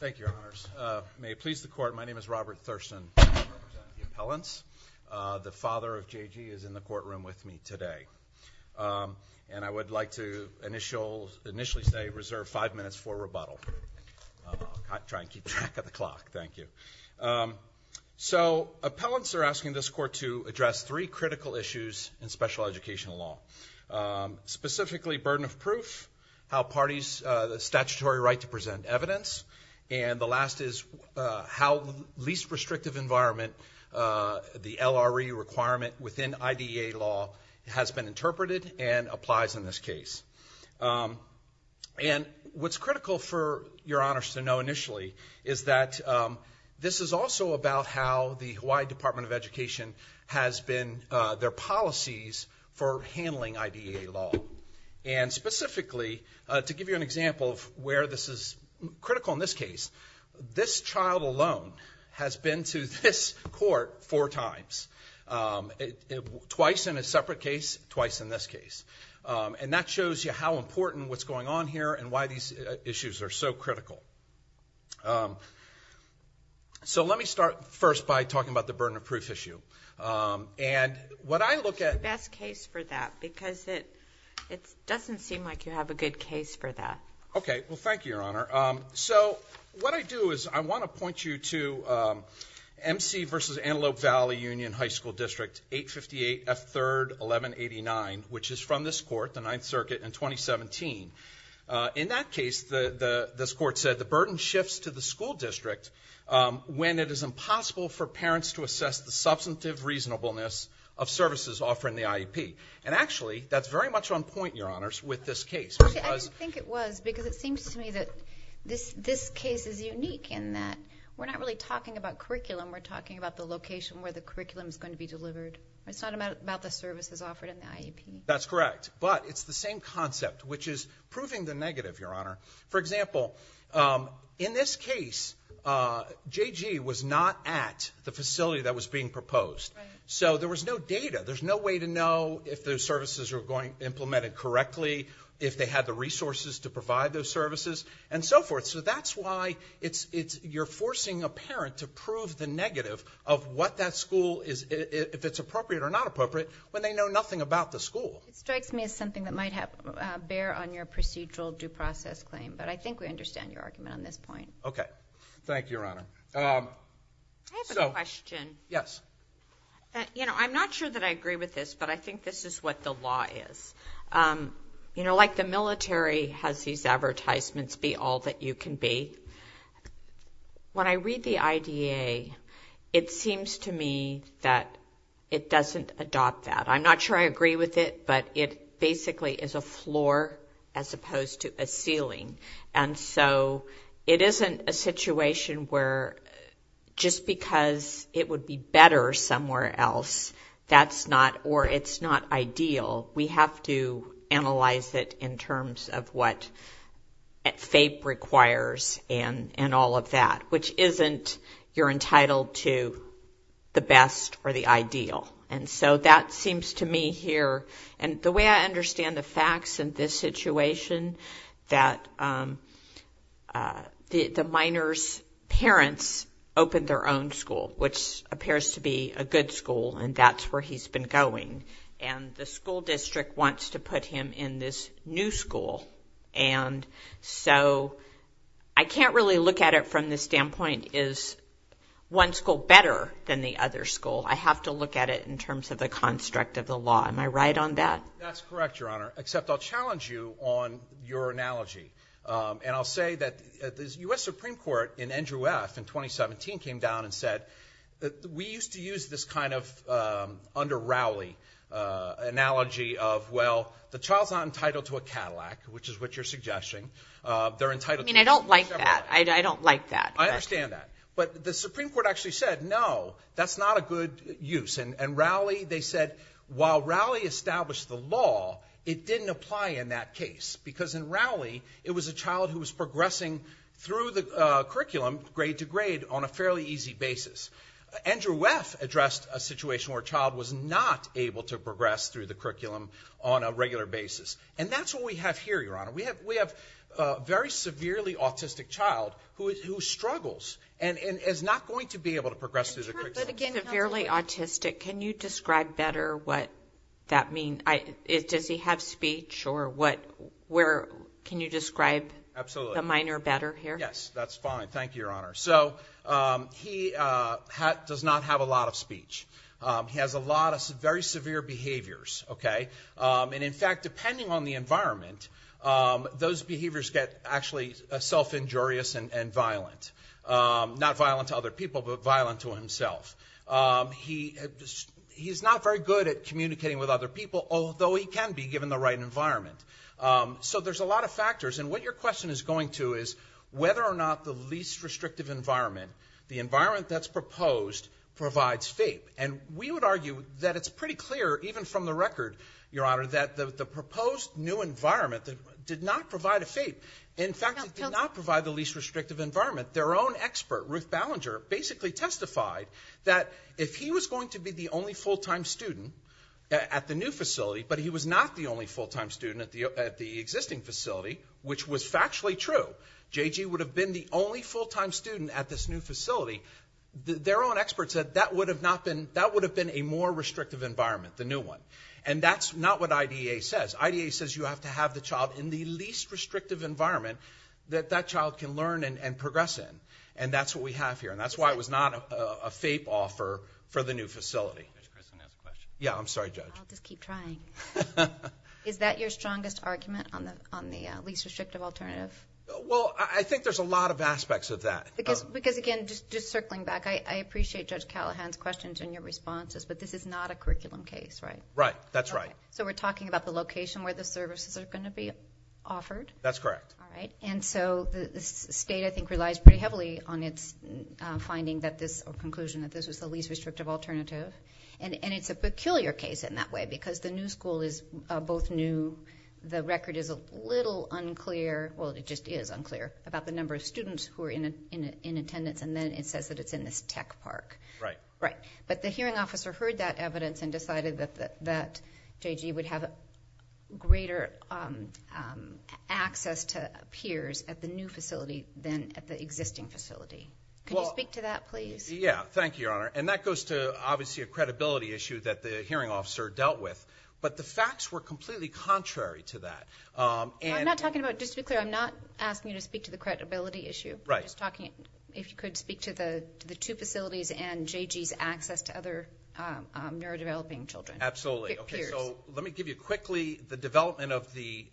Thank you, Your Honors. May it please the Court, my name is Robert Thurston. I represent the appellants. The father of J.G. is in the courtroom with me today and I would like to initially say reserve five minutes for rebuttal. I'll try and keep track of the clock, thank you. So appellants are asking this court to address three critical issues in special educational law, specifically burden of inquiry, right to present evidence, and the last is how the least restrictive environment, the LRE requirement within IDEA law has been interpreted and applies in this case. And what's critical for Your Honors to know initially is that this is also about how the Hawaii Department of Education has been, their policies for handling IDEA law. And specifically, to give you an example of where this is critical in this case, this child alone has been to this court four times. Twice in a separate case, twice in this case. And that shows you how important what's going on here and why these issues are so critical. So let me start first by talking about the burden of proof issue. And what I look at the best case for that because it doesn't seem like you have a good case for that. Okay, well thank you, Your Honor. So what I do is I want to point you to MC versus Antelope Valley Union High School District 858 F3rd 1189, which is from this court, the Ninth Circuit in 2017. In that case, this court said the burden shifts to the school district when it is impossible for parents to assess the substantive reasonableness of services offered in the IEP. And actually, that's very much on point, Your Honors, with this case. I didn't think it was because it seems to me that this case is unique in that we're not really talking about curriculum, we're talking about the location where the curriculum is going to be delivered. It's not about the services offered in the IEP. That's correct. But it's the same concept, which is proving the negative, Your Honor. For example, in this case, JG was not at the facility that was being proposed. So there was no data. There's no way to know if those services are going to be implemented correctly, if they had the resources to provide those services, and so forth. So that's why you're forcing a parent to prove the negative of what that school is, if it's appropriate or not appropriate, when they know nothing about the school. It strikes me as something that might bear on your procedural due process claim, but I think we understand your argument on this point. Okay. Thank you, Your Honor. I have a question. Yes. You know, I'm not sure that I agree with this, but I think this is what the law is. You know, like the military has these advertisements, be all that you can be. When I read the IDA, it seems to me that it doesn't adopt that. I'm not sure I agree with it, but it basically is a floor as opposed to a ceiling. And so it isn't a situation where just because it would be better somewhere else, that's not, or it's not ideal. We have to analyze it in terms of what FAPE requires and all of that, which isn't, you're entitled to the best or the ideal. And so that seems to me here, and the way I understand the facts in this situation, that the minor's parents opened their own school, which appears to be a good school, and that's where he's been going. And the school district wants to put him in this new school. And so I can't really look at it from the standpoint, is one school better than the other school? I have to look at it in terms of the construct of the law. Am I right on that? That's correct, Your Honor, except I'll challenge you on your analogy. And I'll say that the US Supreme Court in Andrew F. in 2017 came down and said that we used to use this kind of under Rowley analogy of, well, the child's not entitled to a Cadillac, which is what you're suggesting. They're entitled to- I mean, I don't like that. I don't like that. I understand that. But the Supreme Court actually said, no, that's not a good use. And Rowley, they said, while Rowley established the law, it didn't apply in that case. Because in Rowley, it was a child who was progressing through the curriculum, grade to grade, on a fairly easy basis. Andrew F. addressed a situation where a child was not able to progress through the curriculum on a regular basis. And that's what we have here, Your Honor. We have a very severely autistic child who struggles and is not going to be able to progress through the curriculum. But again, severely autistic. Can you describe better what that means? Does he have speech? Can you describe the minor better here? Yes, that's fine. Thank you, Your Honor. So he does not have a lot of speech. He has a lot of very severe behaviors. And in fact, depending on the environment, those behaviors get actually self-injurious and violent. Not violent to other people, but violent to himself. He's not very good at communicating with other people, although he can be given the right environment. So there's a lot of factors. And what your question is going to is whether or not the least restrictive environment, the environment that's proposed, provides FAPE. And we would argue that it's pretty clear, even from the record, Your Honor, that the proposed new environment did not provide a FAPE. In fact, it did not provide the least restrictive environment. Their own expert, Ruth Ballinger, basically testified that if he was going to be the only full-time student at the new facility, but he was not the only full-time student at the existing facility, which was factually true. JG would have been the only full-time student at this new facility. Their own expert said that would have been a more restrictive environment, the new one. And that's not what IDEA says. IDEA says you have to have the child in the least restrictive environment that that child can learn and progress in. And that's what we have here. And that's why it was not a FAPE offer for the new facility. Yeah, I'm sorry, Judge. Is that your strongest argument on the least restrictive alternative? Well, I think there's a lot of aspects of that. Because again, just circling back, I appreciate Judge Callahan's questions and your response to this, but this is not a curriculum case, right? Right, that's right. So we're talking about the location where the services are going to be offered? That's correct. And so the state, I think, relies pretty heavily on its finding that this, or conclusion, that this was the least restrictive alternative. And it's a peculiar case in that way, because the new school is both new, the record is a little unclear, well, it just is unclear about the number of students who are in attendance, and then it says that it's in this tech park. Right. But the hearing officer heard that evidence and decided that JG would have greater access to peers at the new facility than at the existing facility. Can you speak to that, please? Yeah, thank you, Your Honor. And that goes to, obviously, a credibility issue that the hearing officer dealt with. But the facts were completely contrary to that. I'm not talking about, just to be clear, I'm not asking you to speak to the credibility issue. I'm just talking, if you could speak to the two facilities and JG's access to other neurodeveloping children, peers. Absolutely. Okay, so let me give you quickly the development of the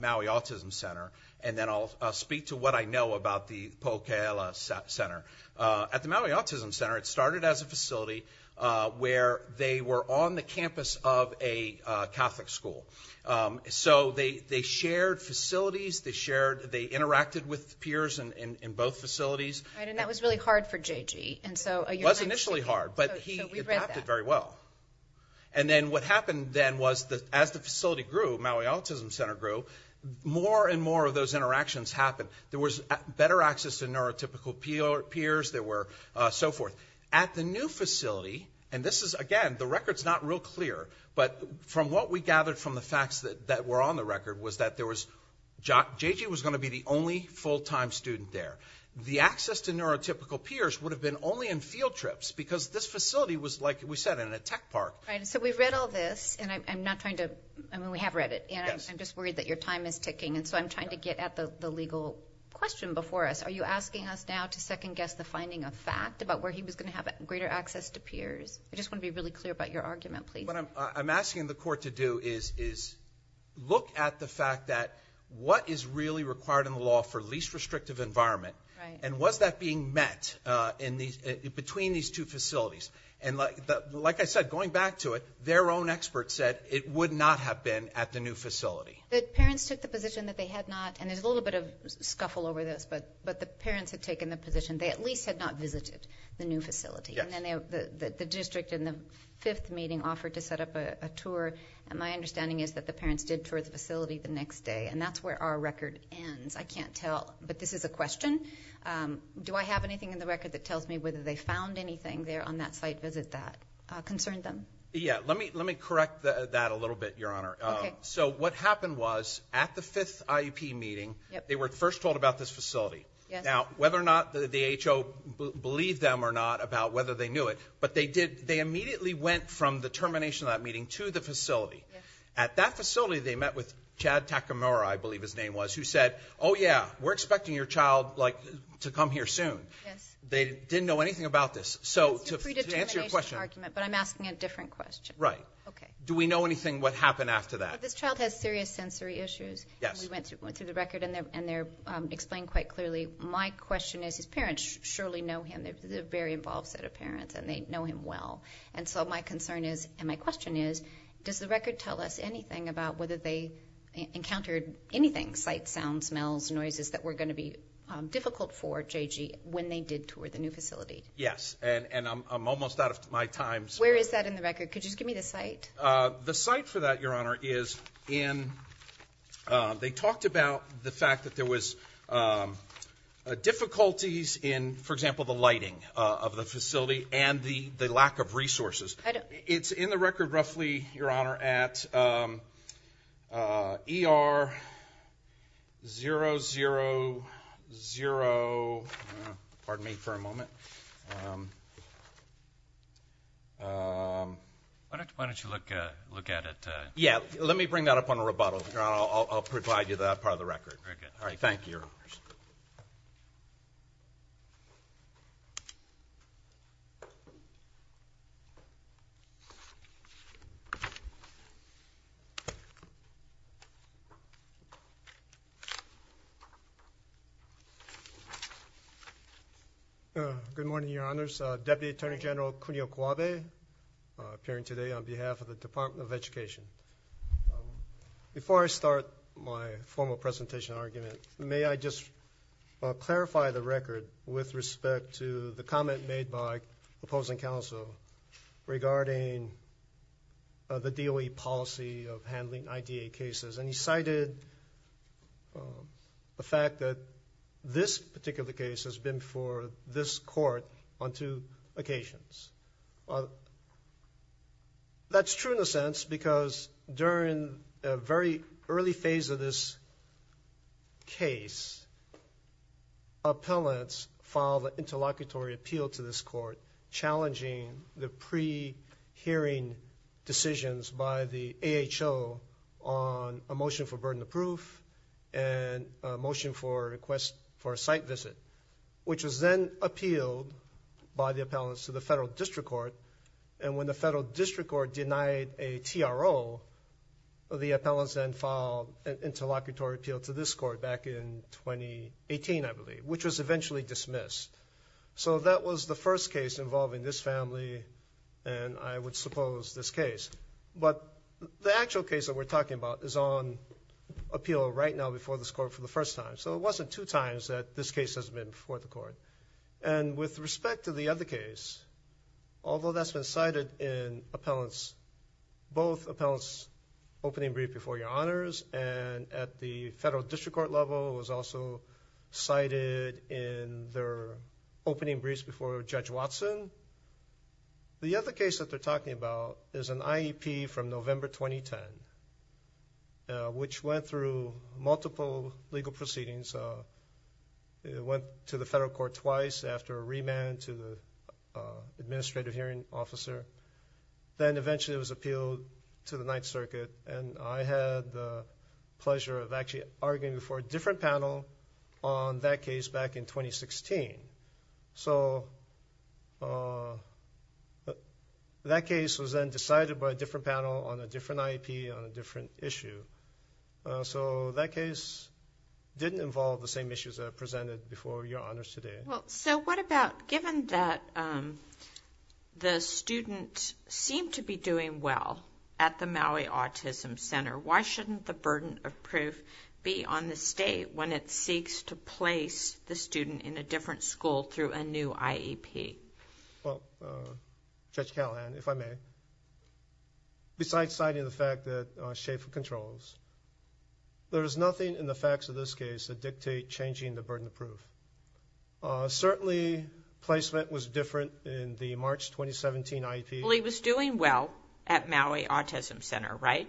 Maui Autism Center, and then I'll speak to what I know about the Po'okela Center. At the Maui Autism Center, it started as a facility where they were on the campus of a Catholic school. So they shared facilities, they interacted with peers in both facilities. Right, and that was really hard for JG. It was initially hard, but he adapted very well. And then what happened then was, as the facility grew, Maui Autism Center grew, more and more of those interactions happened. There was better access to neurotypical peers, there were so forth. At the new facility, and this is, again, the record's not real clear, but from what we gathered from the record, was that JG was going to be the only full-time student there. The access to neurotypical peers would have been only in field trips, because this facility was, like we said, in a tech park. Right, and so we've read all this, and I'm not trying to, I mean, we have read it, and I'm just worried that your time is ticking, and so I'm trying to get at the legal question before us. Are you asking us now to second-guess the finding of fact about where he was going to have greater access to peers? I just want to be really clear about your argument, please. What I'm asking the court to do is look at the fact that what is really required in the law for least restrictive environment, and was that being met between these two facilities? Like I said, going back to it, their own experts said it would not have been at the new facility. The parents took the position that they had not, and there's a little bit of scuffle over this, but the parents had taken the position they at least had not visited the new facility, and then the district in the fifth meeting offered to set up a tour, and my understanding is that the parents did tour the facility the next day, and that's where our record ends. I can't tell, but this is a question. Do I have anything in the record that tells me whether they found anything there on that site visit that concerned them? Yeah, let me correct that a little bit, Your Honor. So what happened was, at the fifth IEP meeting, they were first told about this facility. Now, whether or not the HO believed them or not about whether they knew it, but they immediately went from the termination of that meeting to the facility. At that facility, they met with Chad Takamura, I believe his name was, who said, oh, yeah, we're expecting your child to come here soon. They didn't know anything about this, so to answer your question. It's a predetermination argument, but I'm asking a different question. Right. Do we know anything what happened after that? This child has serious sensory issues. We went through the record, and they're explained quite clearly. My question is, his parents surely know him. They're a very involved set of parents, and they know him well. So my concern is, and my question is, does the record tell us anything about whether they encountered anything, sight, sound, smells, noises, that were going to be difficult for JG when they did tour the new facility? Yes, and I'm almost out of my time. Where is that in the record? Could you just give me the site? The site for that, Your Honor, is in, they have difficulties in, for example, the lighting of the facility and the lack of resources. It's in the record, roughly, Your Honor, at ER 000, pardon me for a moment. Why don't you look at it? Yeah, let me bring that up on a rebuttal. I'll provide you that part of the record. All right, thank you, Your Honors. Good morning, Your Honors. Deputy Attorney General Cunio Cuave, appearing today on behalf of the Department of Education. Before I start my formal presentation argument, may I just clarify the record with respect to the comment made by opposing counsel regarding the DOE policy of handling IDA cases. And he cited the fact that this particular case has been for this court on two occasions. That's true in a sense because during a very early phase of this case, appellants filed an interlocutory appeal to this court challenging the pre-hearing decisions by the AHO on a motion for burden of proof and a motion for a site visit, which was then appealed by the appellants to the Federal District Court. And when the Federal District Court denied a TRO, the appellants then filed an interlocutory appeal to this court back in 2018, I believe, which was eventually dismissed. So that was the first case involving this family and, I would suppose, this case. But the actual case that we're talking about is on appeal right now before this court for the first time. So it wasn't two times that this case has been before the court. And with respect to the other case, although that's been cited in both appellants' opening brief before Your Honors and at the Federal District Court level, it was also cited in their opening briefs before Judge Watson, the other case that they're talking about is an IEP from November 2010, which went through multiple legal proceedings. It went to the Federal Court twice after a remand to the Administrative Hearing Officer. Then eventually it was appealed to the Ninth Circuit, and I had the pleasure of actually arguing for a different panel on that case back in 2016. So that case was then decided by a different panel on a different IEP on a different issue. So that case didn't involve the same issues that I presented before Your Honors today. Well, so what about given that the student seemed to be doing well at the Maui Autism Center, why shouldn't the burden of proof be on the state when it seeks to place the student in a different school through a new IEP? Well, Judge Callahan, if I may, besides citing the fact that Schafer controls, there is nothing in the facts of this case that dictate changing the burden of proof. Certainly placement was different in the March 2017 IEP. Well, he was doing well at Maui Autism Center, right?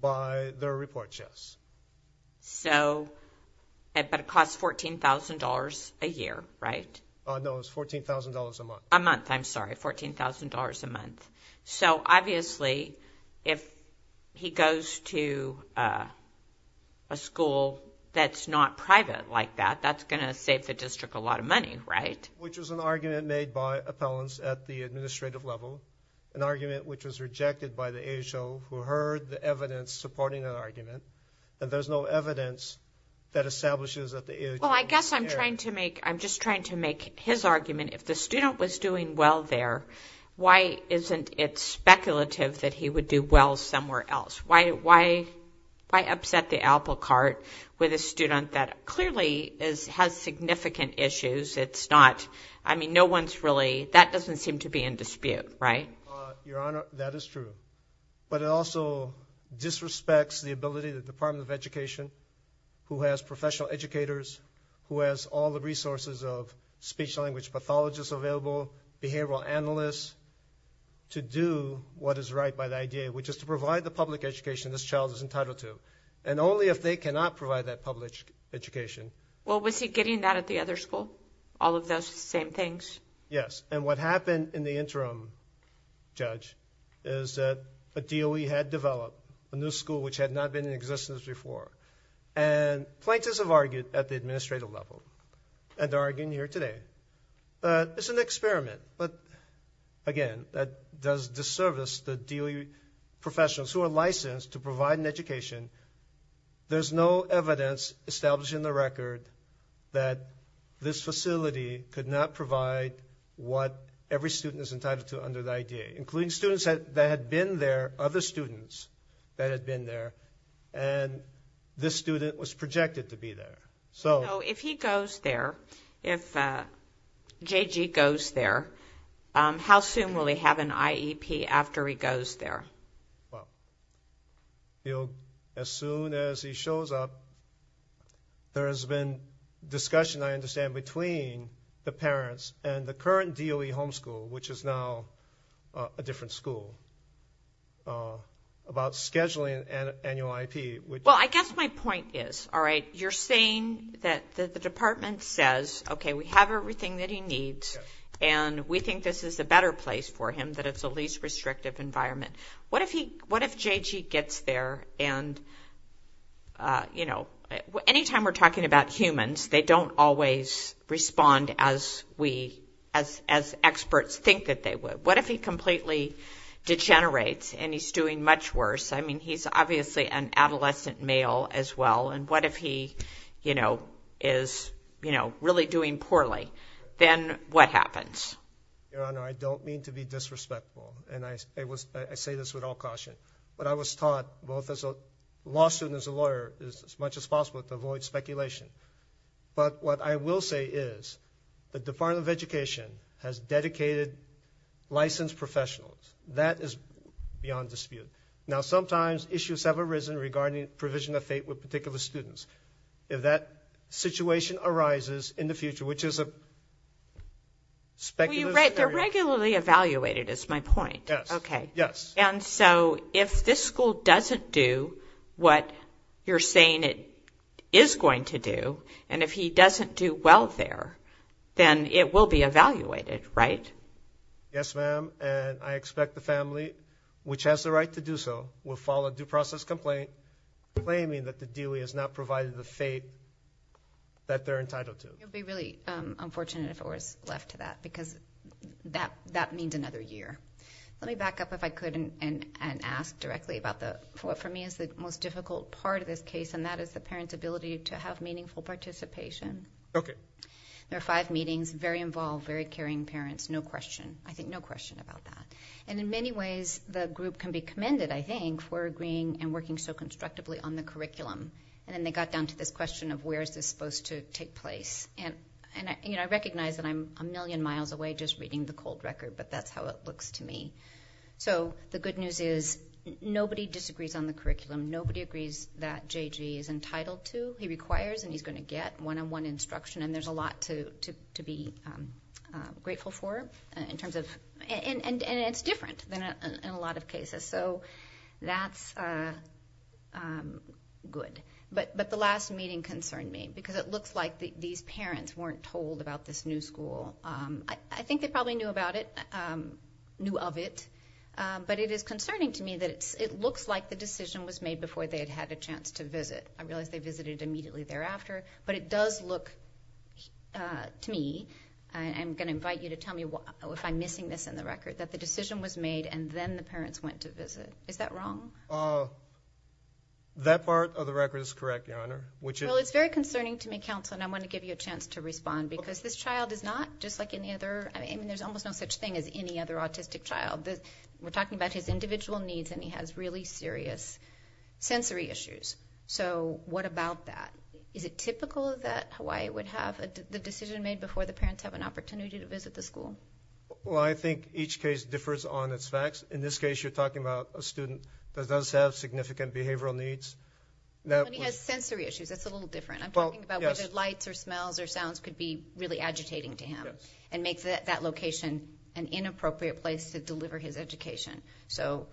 By their report, yes. So, but it cost $14,000 a year, right? No, it was $14,000 a month. A month, I'm sorry, $14,000 a month. So obviously if he goes to a school that's not private like that, that's going to save the district a lot of money, right? Which was an argument made by appellants at the administrative level, an argument which was rejected by the AHO who heard the evidence supporting that argument, and there's no evidence that establishes that the AHO... Well, I guess I'm trying to make, I'm just trying to make his argument, if the student was doing well there, why isn't it speculative that he would do well somewhere else? Why upset the apple cart with a student that clearly has significant issues? It's not, I mean, no one's really, that doesn't seem to be in dispute, right? Your Honor, that is true. But it also disrespects the ability of the Department of Education who has professional educators, who has all the resources of speech and language pathologists available, behavioral analysts, to do what is right by the IDA, which is to provide the public education this child is entitled to. And only if they cannot provide that public education... Well, was he getting that at the other school? All of those same things? Yes. And what happened in the interim, Judge, is that a DOE had developed a new school which had not been in existence before. And plaintiffs have argued at the administrative level, and they're arguing here today. It's an experiment, but again, that does disservice the DOE professionals who are licensed to provide an education. There's no evidence established in the record that this facility could not provide what every student is entitled to under the IDA, including students that had been there, other students that had been there, and this student was projected to be there. So if he goes there, if J.G. goes there, how soon will he have an IEP after he goes there? Well, as soon as he shows up, there has been discussion, I understand, between the parents and the current DOE homeschool, which is now a different school, about scheduling an annual IEP. Well, I guess my point is, all right, you're saying that the department says, okay, we have everything that he needs, and we think this is a better place for him, that it's the least restrictive environment. What if J.G. gets there, and anytime we're talking about humans, they don't always respond as experts think that they would. What if he completely degenerates, and he's doing much worse? I mean, he's obviously an adolescent male as well, and what if he is really doing poorly? Then what happens? Your Honor, I don't mean to be disrespectful, and I say this with all caution, but I was taught both as a law student and as a lawyer, as much as possible, to avoid speculation. But what I will say is, the Department of Education has dedicated licensed professionals. That is beyond dispute. Now, sometimes issues have arisen regarding provision of fate with the Dewey. They're regularly evaluated, is my point. Yes, yes. And so, if this school doesn't do what you're saying it is going to do, and if he doesn't do well there, then it will be evaluated, right? Yes, ma'am, and I expect the family, which has the right to do so, will file a due process complaint, claiming that the Dewey has not provided the fate that they're entitled to. It would be really unfortunate if it was left to that, because that means another year. Let me back up, if I could, and ask directly about what, for me, is the most difficult part of this case, and that is the parent's ability to have meaningful participation. Okay. There are five meetings, very involved, very caring parents, no question. I think no question about that. And in many ways, the group can be commended, I think, for agreeing and working so constructively on the curriculum, and then they got down to this question of where is this supposed to take place? And I recognize that I'm a million miles away just reading the cold record, but that's how it looks to me. So the good news is nobody disagrees on the curriculum, nobody agrees that J.G. is entitled to, he requires, and he's going to get one-on-one instruction, and there's a lot to be grateful for in terms of, and it's different than in a lot of cases. So that's good. But the last meeting concerned me, because it looks like these parents weren't told about this new school. I think they probably knew about it, knew of it, but it is concerning to me that it looks like the decision was made before they had had a chance to visit. I realize they visited immediately thereafter, but it does look to me, and I'm going to invite you to tell me if I'm missing this in the record, that the decision was made and then the parents went to visit. Is that wrong? That part of the record is correct, Your Honor. Well, it's very concerning to me, Counsel, and I want to give you a chance to respond, because this child is not just like any other, I mean, there's almost no such thing as any other autistic child. We're talking about his individual needs, and he has really serious sensory issues. So what about that? Is it typical that Hawaii would have the decision made before the parents have an opportunity to visit the school? Well, I think each case differs on its facts. In this case, you're talking about a student that does have significant behavioral needs. When he has sensory issues, that's a little different. I'm talking about whether lights or smells or sounds could be really agitating to him and make that location an inappropriate place to deliver his education. So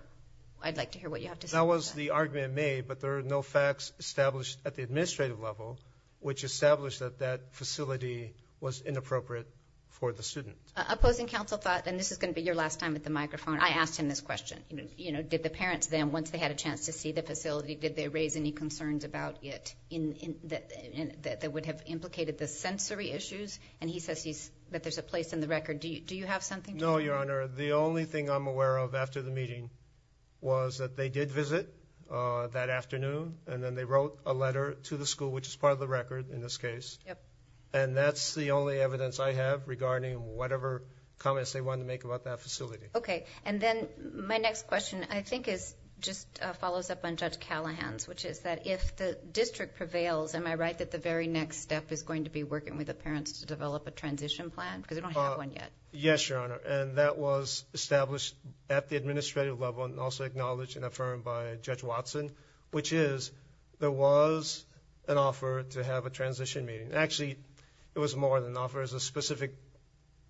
I'd like to hear what you have to say about that. That was the argument made, but there are no facts established at the administrative level which establish that that facility was inappropriate for the student. Opposing counsel thought, and this is going to be your last time at the microphone, I think the parents then, once they had a chance to see the facility, did they raise any concerns about it that would have implicated the sensory issues? And he says that there's a place in the record. Do you have something to add? No, Your Honor. The only thing I'm aware of after the meeting was that they did visit that afternoon, and then they wrote a letter to the school, which is part of the record in this case. And that's the only evidence I have regarding whatever comments they wanted to make about that facility. Okay. And then my next question, I think, just follows up on Judge Callahan's, which is that if the district prevails, am I right that the very next step is going to be working with the parents to develop a transition plan? Because we don't have one yet. Yes, Your Honor. And that was established at the administrative level and also acknowledged and affirmed by Judge Watson, which is there was an offer to have a transition meeting. Actually, it was more than an offer. It was a specific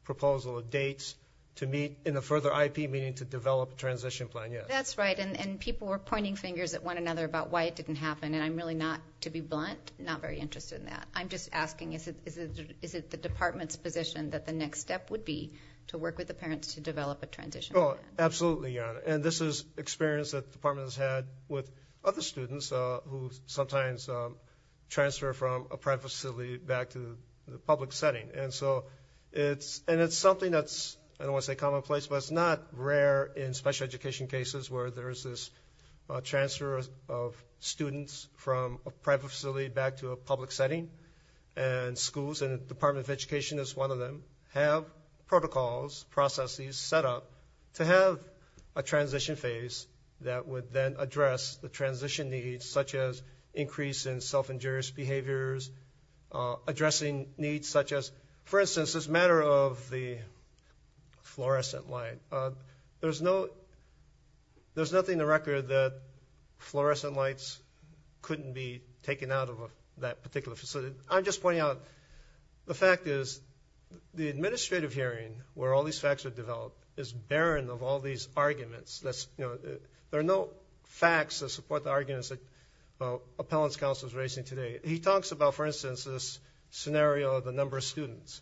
proposal of dates to meet in a further IP meeting to develop a transition plan, yes. That's right. And people were pointing fingers at one another about why it didn't happen, and I'm really not, to be blunt, not very interested in that. I'm just asking, is it the department's position that the next step would be to work with the parents to develop a transition plan? Oh, absolutely, Your Honor. And this is experience that the department has had with other students who sometimes transfer from a private facility back to the public setting. And so it's, and it's something that's, I don't want to say commonplace, but it's not rare in special education cases where there's this transfer of students from a private facility back to a public setting. And schools, and the Department of Education is one of them, have protocols, processes set up to have a transition phase that would then address the transition needs, such as increase in self-injurious behaviors, addressing needs such as, for instance, this matter of the fluorescent light. There's no, there's nothing in the record that fluorescent lights couldn't be taken out of that particular facility. I'm just pointing out, the fact is the administrative hearing, where all these facts are developed, is barren of all these arguments. There are no facts that support the arguments that Appellant's Counsel is raising today. He talks about, for instance, this scenario of the number of students.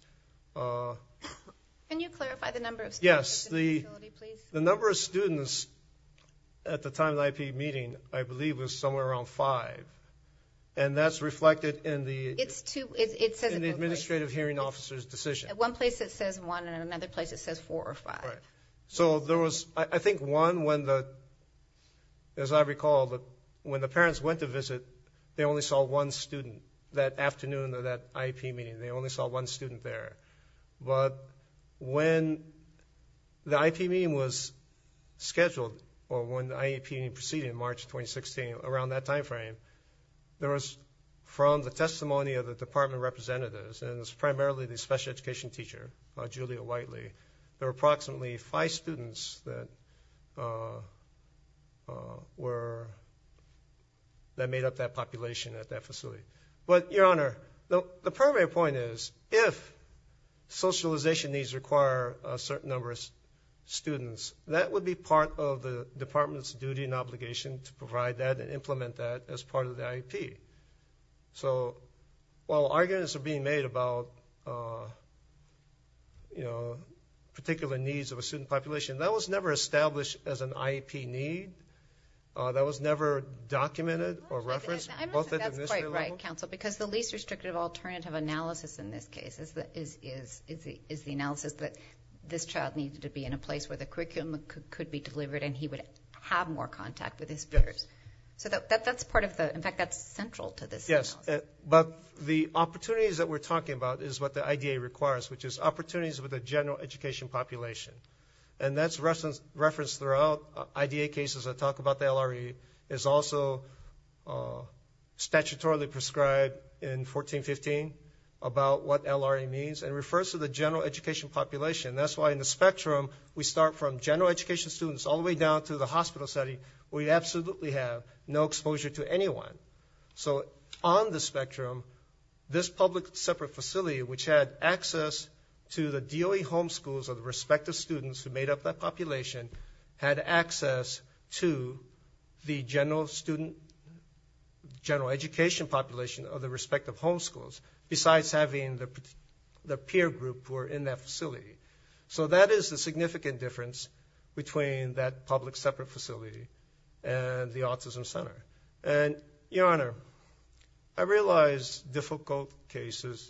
Can you clarify the number of students? Yes, the number of students at the time of the IP meeting, I believe, was somewhere around four or five. And that's reflected in the administrative hearing officer's decision. At one place it says one, and at another place it says four or five. Right. So there was, I think, one when the, as I recall, when the parents went to visit, they only saw one student that afternoon of that IP meeting. They only saw one student there. But when the IP meeting was scheduled, or when the IP meeting proceeded in March 2016, around that time frame, there was, from the testimony of the department representatives, and it was primarily the special education teacher, Julia Whiteley, there were approximately five students that were, that made up that population at that facility. But, Your Honor, the primary point is, if socialization needs require a certain number of students, that would be part of the department's duty and obligation to provide that and implement that as part of the IEP. So, while arguments are being made about, you know, particular needs of a student population, that was never established as an IEP need. That was never documented or referenced. I don't think that's quite right, counsel, because the least restrictive alternative analysis in this case is the analysis that this child needed to be in a place where the information could be delivered and he would have more contact with his peers. So, that's part of the, in fact, that's central to this analysis. Yes, but the opportunities that we're talking about is what the IDA requires, which is opportunities with the general education population. And that's referenced throughout IDA cases that talk about the LRE. It's also statutorily prescribed in 1415 about what LRE means. It refers to the general education population. That's why in the spectrum, we start from general education students all the way down to the hospital setting, we absolutely have no exposure to anyone. So, on the spectrum, this public separate facility, which had access to the DOE homeschools of the respective students who made up that population, had access to the general student, general education population of the respective homeschools, besides having the peer group who are in that facility. So, that is the significant difference between that public separate facility and the autism center. And, Your Honor, I realize difficult cases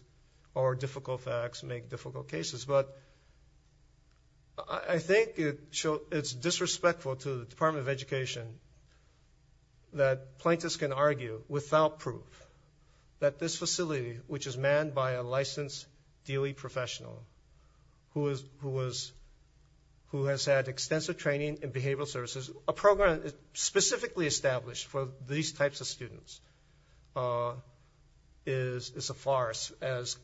or difficult facts make difficult cases, but I think it's disrespectful to the Department of Education that plaintiffs can argue without proof that this facility, which is manned by a licensed DOE professional who has had extensive training in behavioral services, a program specifically established for these types of students, is a farce, as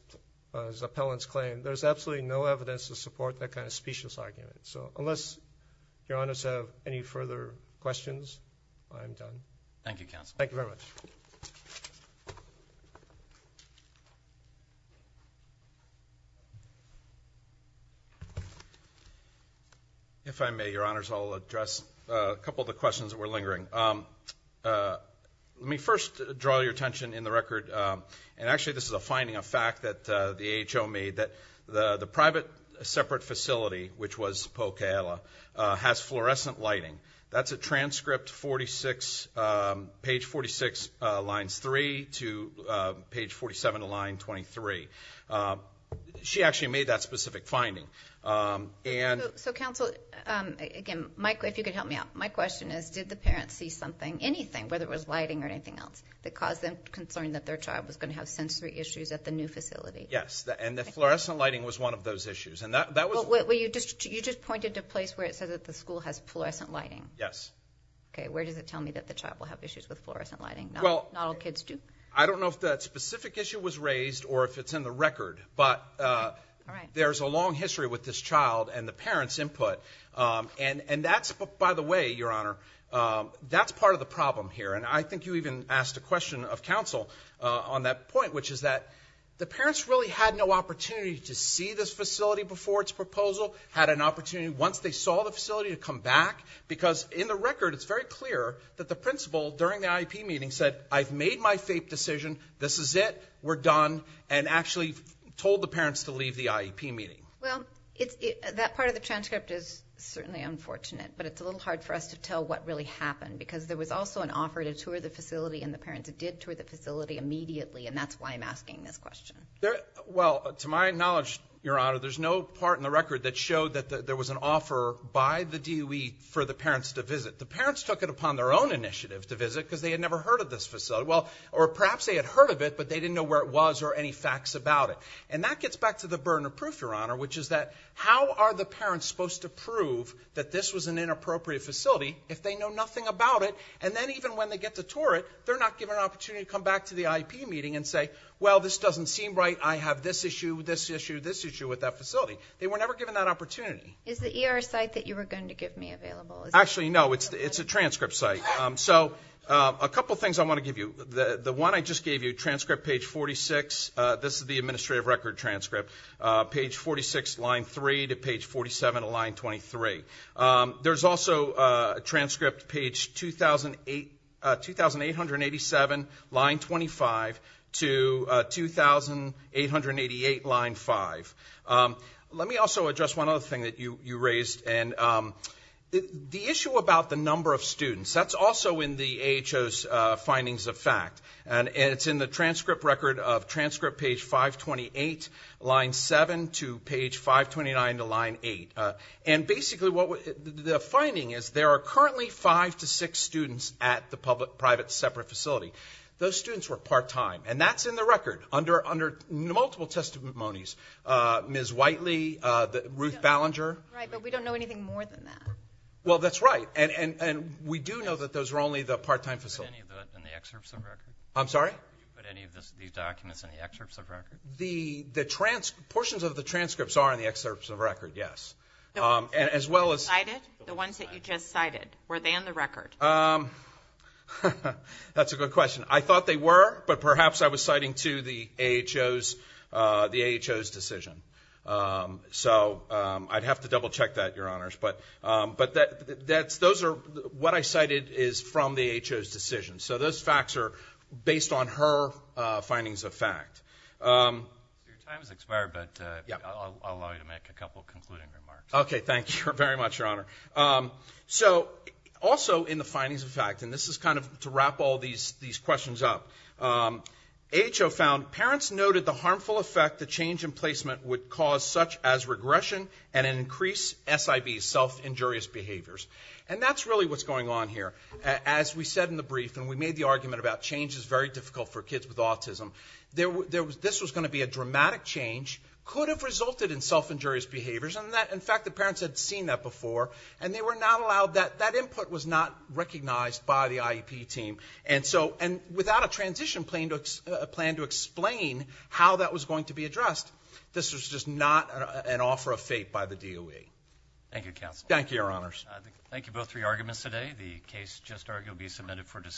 appellants claim. There's absolutely no evidence to support that kind of specious argument. So, unless Your Honors have any further questions, I'm done. Thank you, Counsel. Thank you very much. If I may, Your Honors, I'll address a couple of the questions that were lingering. Let me first draw your attention in the record, and actually this is a finding, a fact, that the AHO made, that the private separate facility, which was Pocayella, has fluorescent lighting. That's a transcript, page 46, lines 3 to page 47 to line 23. She actually made that specific finding. So, Counsel, again, Mike, if you could help me out. My question is, did the parents see something, anything, whether it was lighting or anything else, that caused them concern that their child was going to have sensory issues at the new facility? Yes, and the fluorescent lighting was one of those issues. You just pointed to a place where it said that the school has fluorescent lighting. Yes. Okay, where does it tell me that the child will have issues with fluorescent lighting? Not all kids do? I don't know if that specific issue was raised or if it's in the record, but there's a long history with this child and the parents' input. And that's, by the way, Your Honor, that's part of the problem here. And I think you even asked a question of Counsel on that point, which is that the parents really had no opportunity to see this facility before its proposal, had an opportunity once they saw the facility to come back, because in the record, it's very clear that the principal, during the IEP meeting, said, I've made my FAPE decision, this is it, we're done, and actually told the parents to leave the IEP meeting. Well, that part of the transcript is certainly unfortunate, but it's a little hard for us to tell what really happened, because there was also an offer to tour the facility, and the parents did tour the facility immediately, and that's why I'm asking this question. Well, to my knowledge, Your Honor, there's no part in the record that showed that there was an offer by the DOE for the parents to visit. The parents took it upon their own initiative to visit, because they had never heard of this facility, or perhaps they had heard of it, but they didn't know where it was or any facts about it. And that gets back to the burden of proof, Your Honor, which is that how are the parents supposed to prove that this was an inappropriate facility if they know nothing about it, and then even when they get to tour it, they're not given an opportunity to come back to the IEP meeting and say, well, this doesn't seem right, I have this issue, this issue, this issue with that facility. They were never given that opportunity. Is the ER site that you were going to give me available? Actually, no, it's a transcript site. So a couple things I want to give you. The one I just gave you, transcript page 46, this is the administrative record transcript, page 46, line 3 to page 47 to line 23. There's also a transcript page 2,887, line 25 to 2,888, line 5. Let me also address one other thing that you raised, and the issue about the number of students, that's also in the AHO's findings of fact, and it's in the transcript record of transcript page 528, line 7 to page 529 to line 8. And basically, the finding is there are currently five to six students at the private separate facility. Those students were part-time, and that's in the record, under multiple testimonies. Ms. Whiteley, Ruth Ballinger. Right, but we don't know anything more than that. Well, that's right, and we do know that those were only the part-time facility. But any of that in the excerpts of the record? I'm sorry? Did you put any of these documents in the excerpts of record? The trans, portions of the transcripts are in the excerpts of record, yes. The ones that you cited, the ones that you just cited, were they in the record? That's a good question. I thought they were, but perhaps I was citing to the AHO's, the AHO's decision. So, I'd have to double-check that, Your Honors, but, but that, that's, those are, what I cited is from the AHO's decision. So, those facts are based on her findings of fact. Your time has expired, but I'll allow you to make a couple of concluding remarks. Okay, thank you very much, Your Honor. So, also in the findings of fact, and this is kind of to wrap all these, these questions up, AHO found parents noted the harmful effect the change in placement would cause such as regression and an increased SIB, self-injurious behaviors, and that's really what's going on here. As we said in the brief, and we made the argument about change is very difficult for kids with autism, there was, this was going to be a dramatic change, could have resulted in self-injurious behaviors, and that, in fact, the parents had seen that before, and they were not allowed that, that input was not recognized by the IEP team, and so, and without a transition plan to, a plan to explain how that was going to be addressed, this was just not an offer of fate by the DOE. Thank you, Counsel. Thank you, Your Honors. Thank you both for your arguments today. The case just argued will be submitted for decision.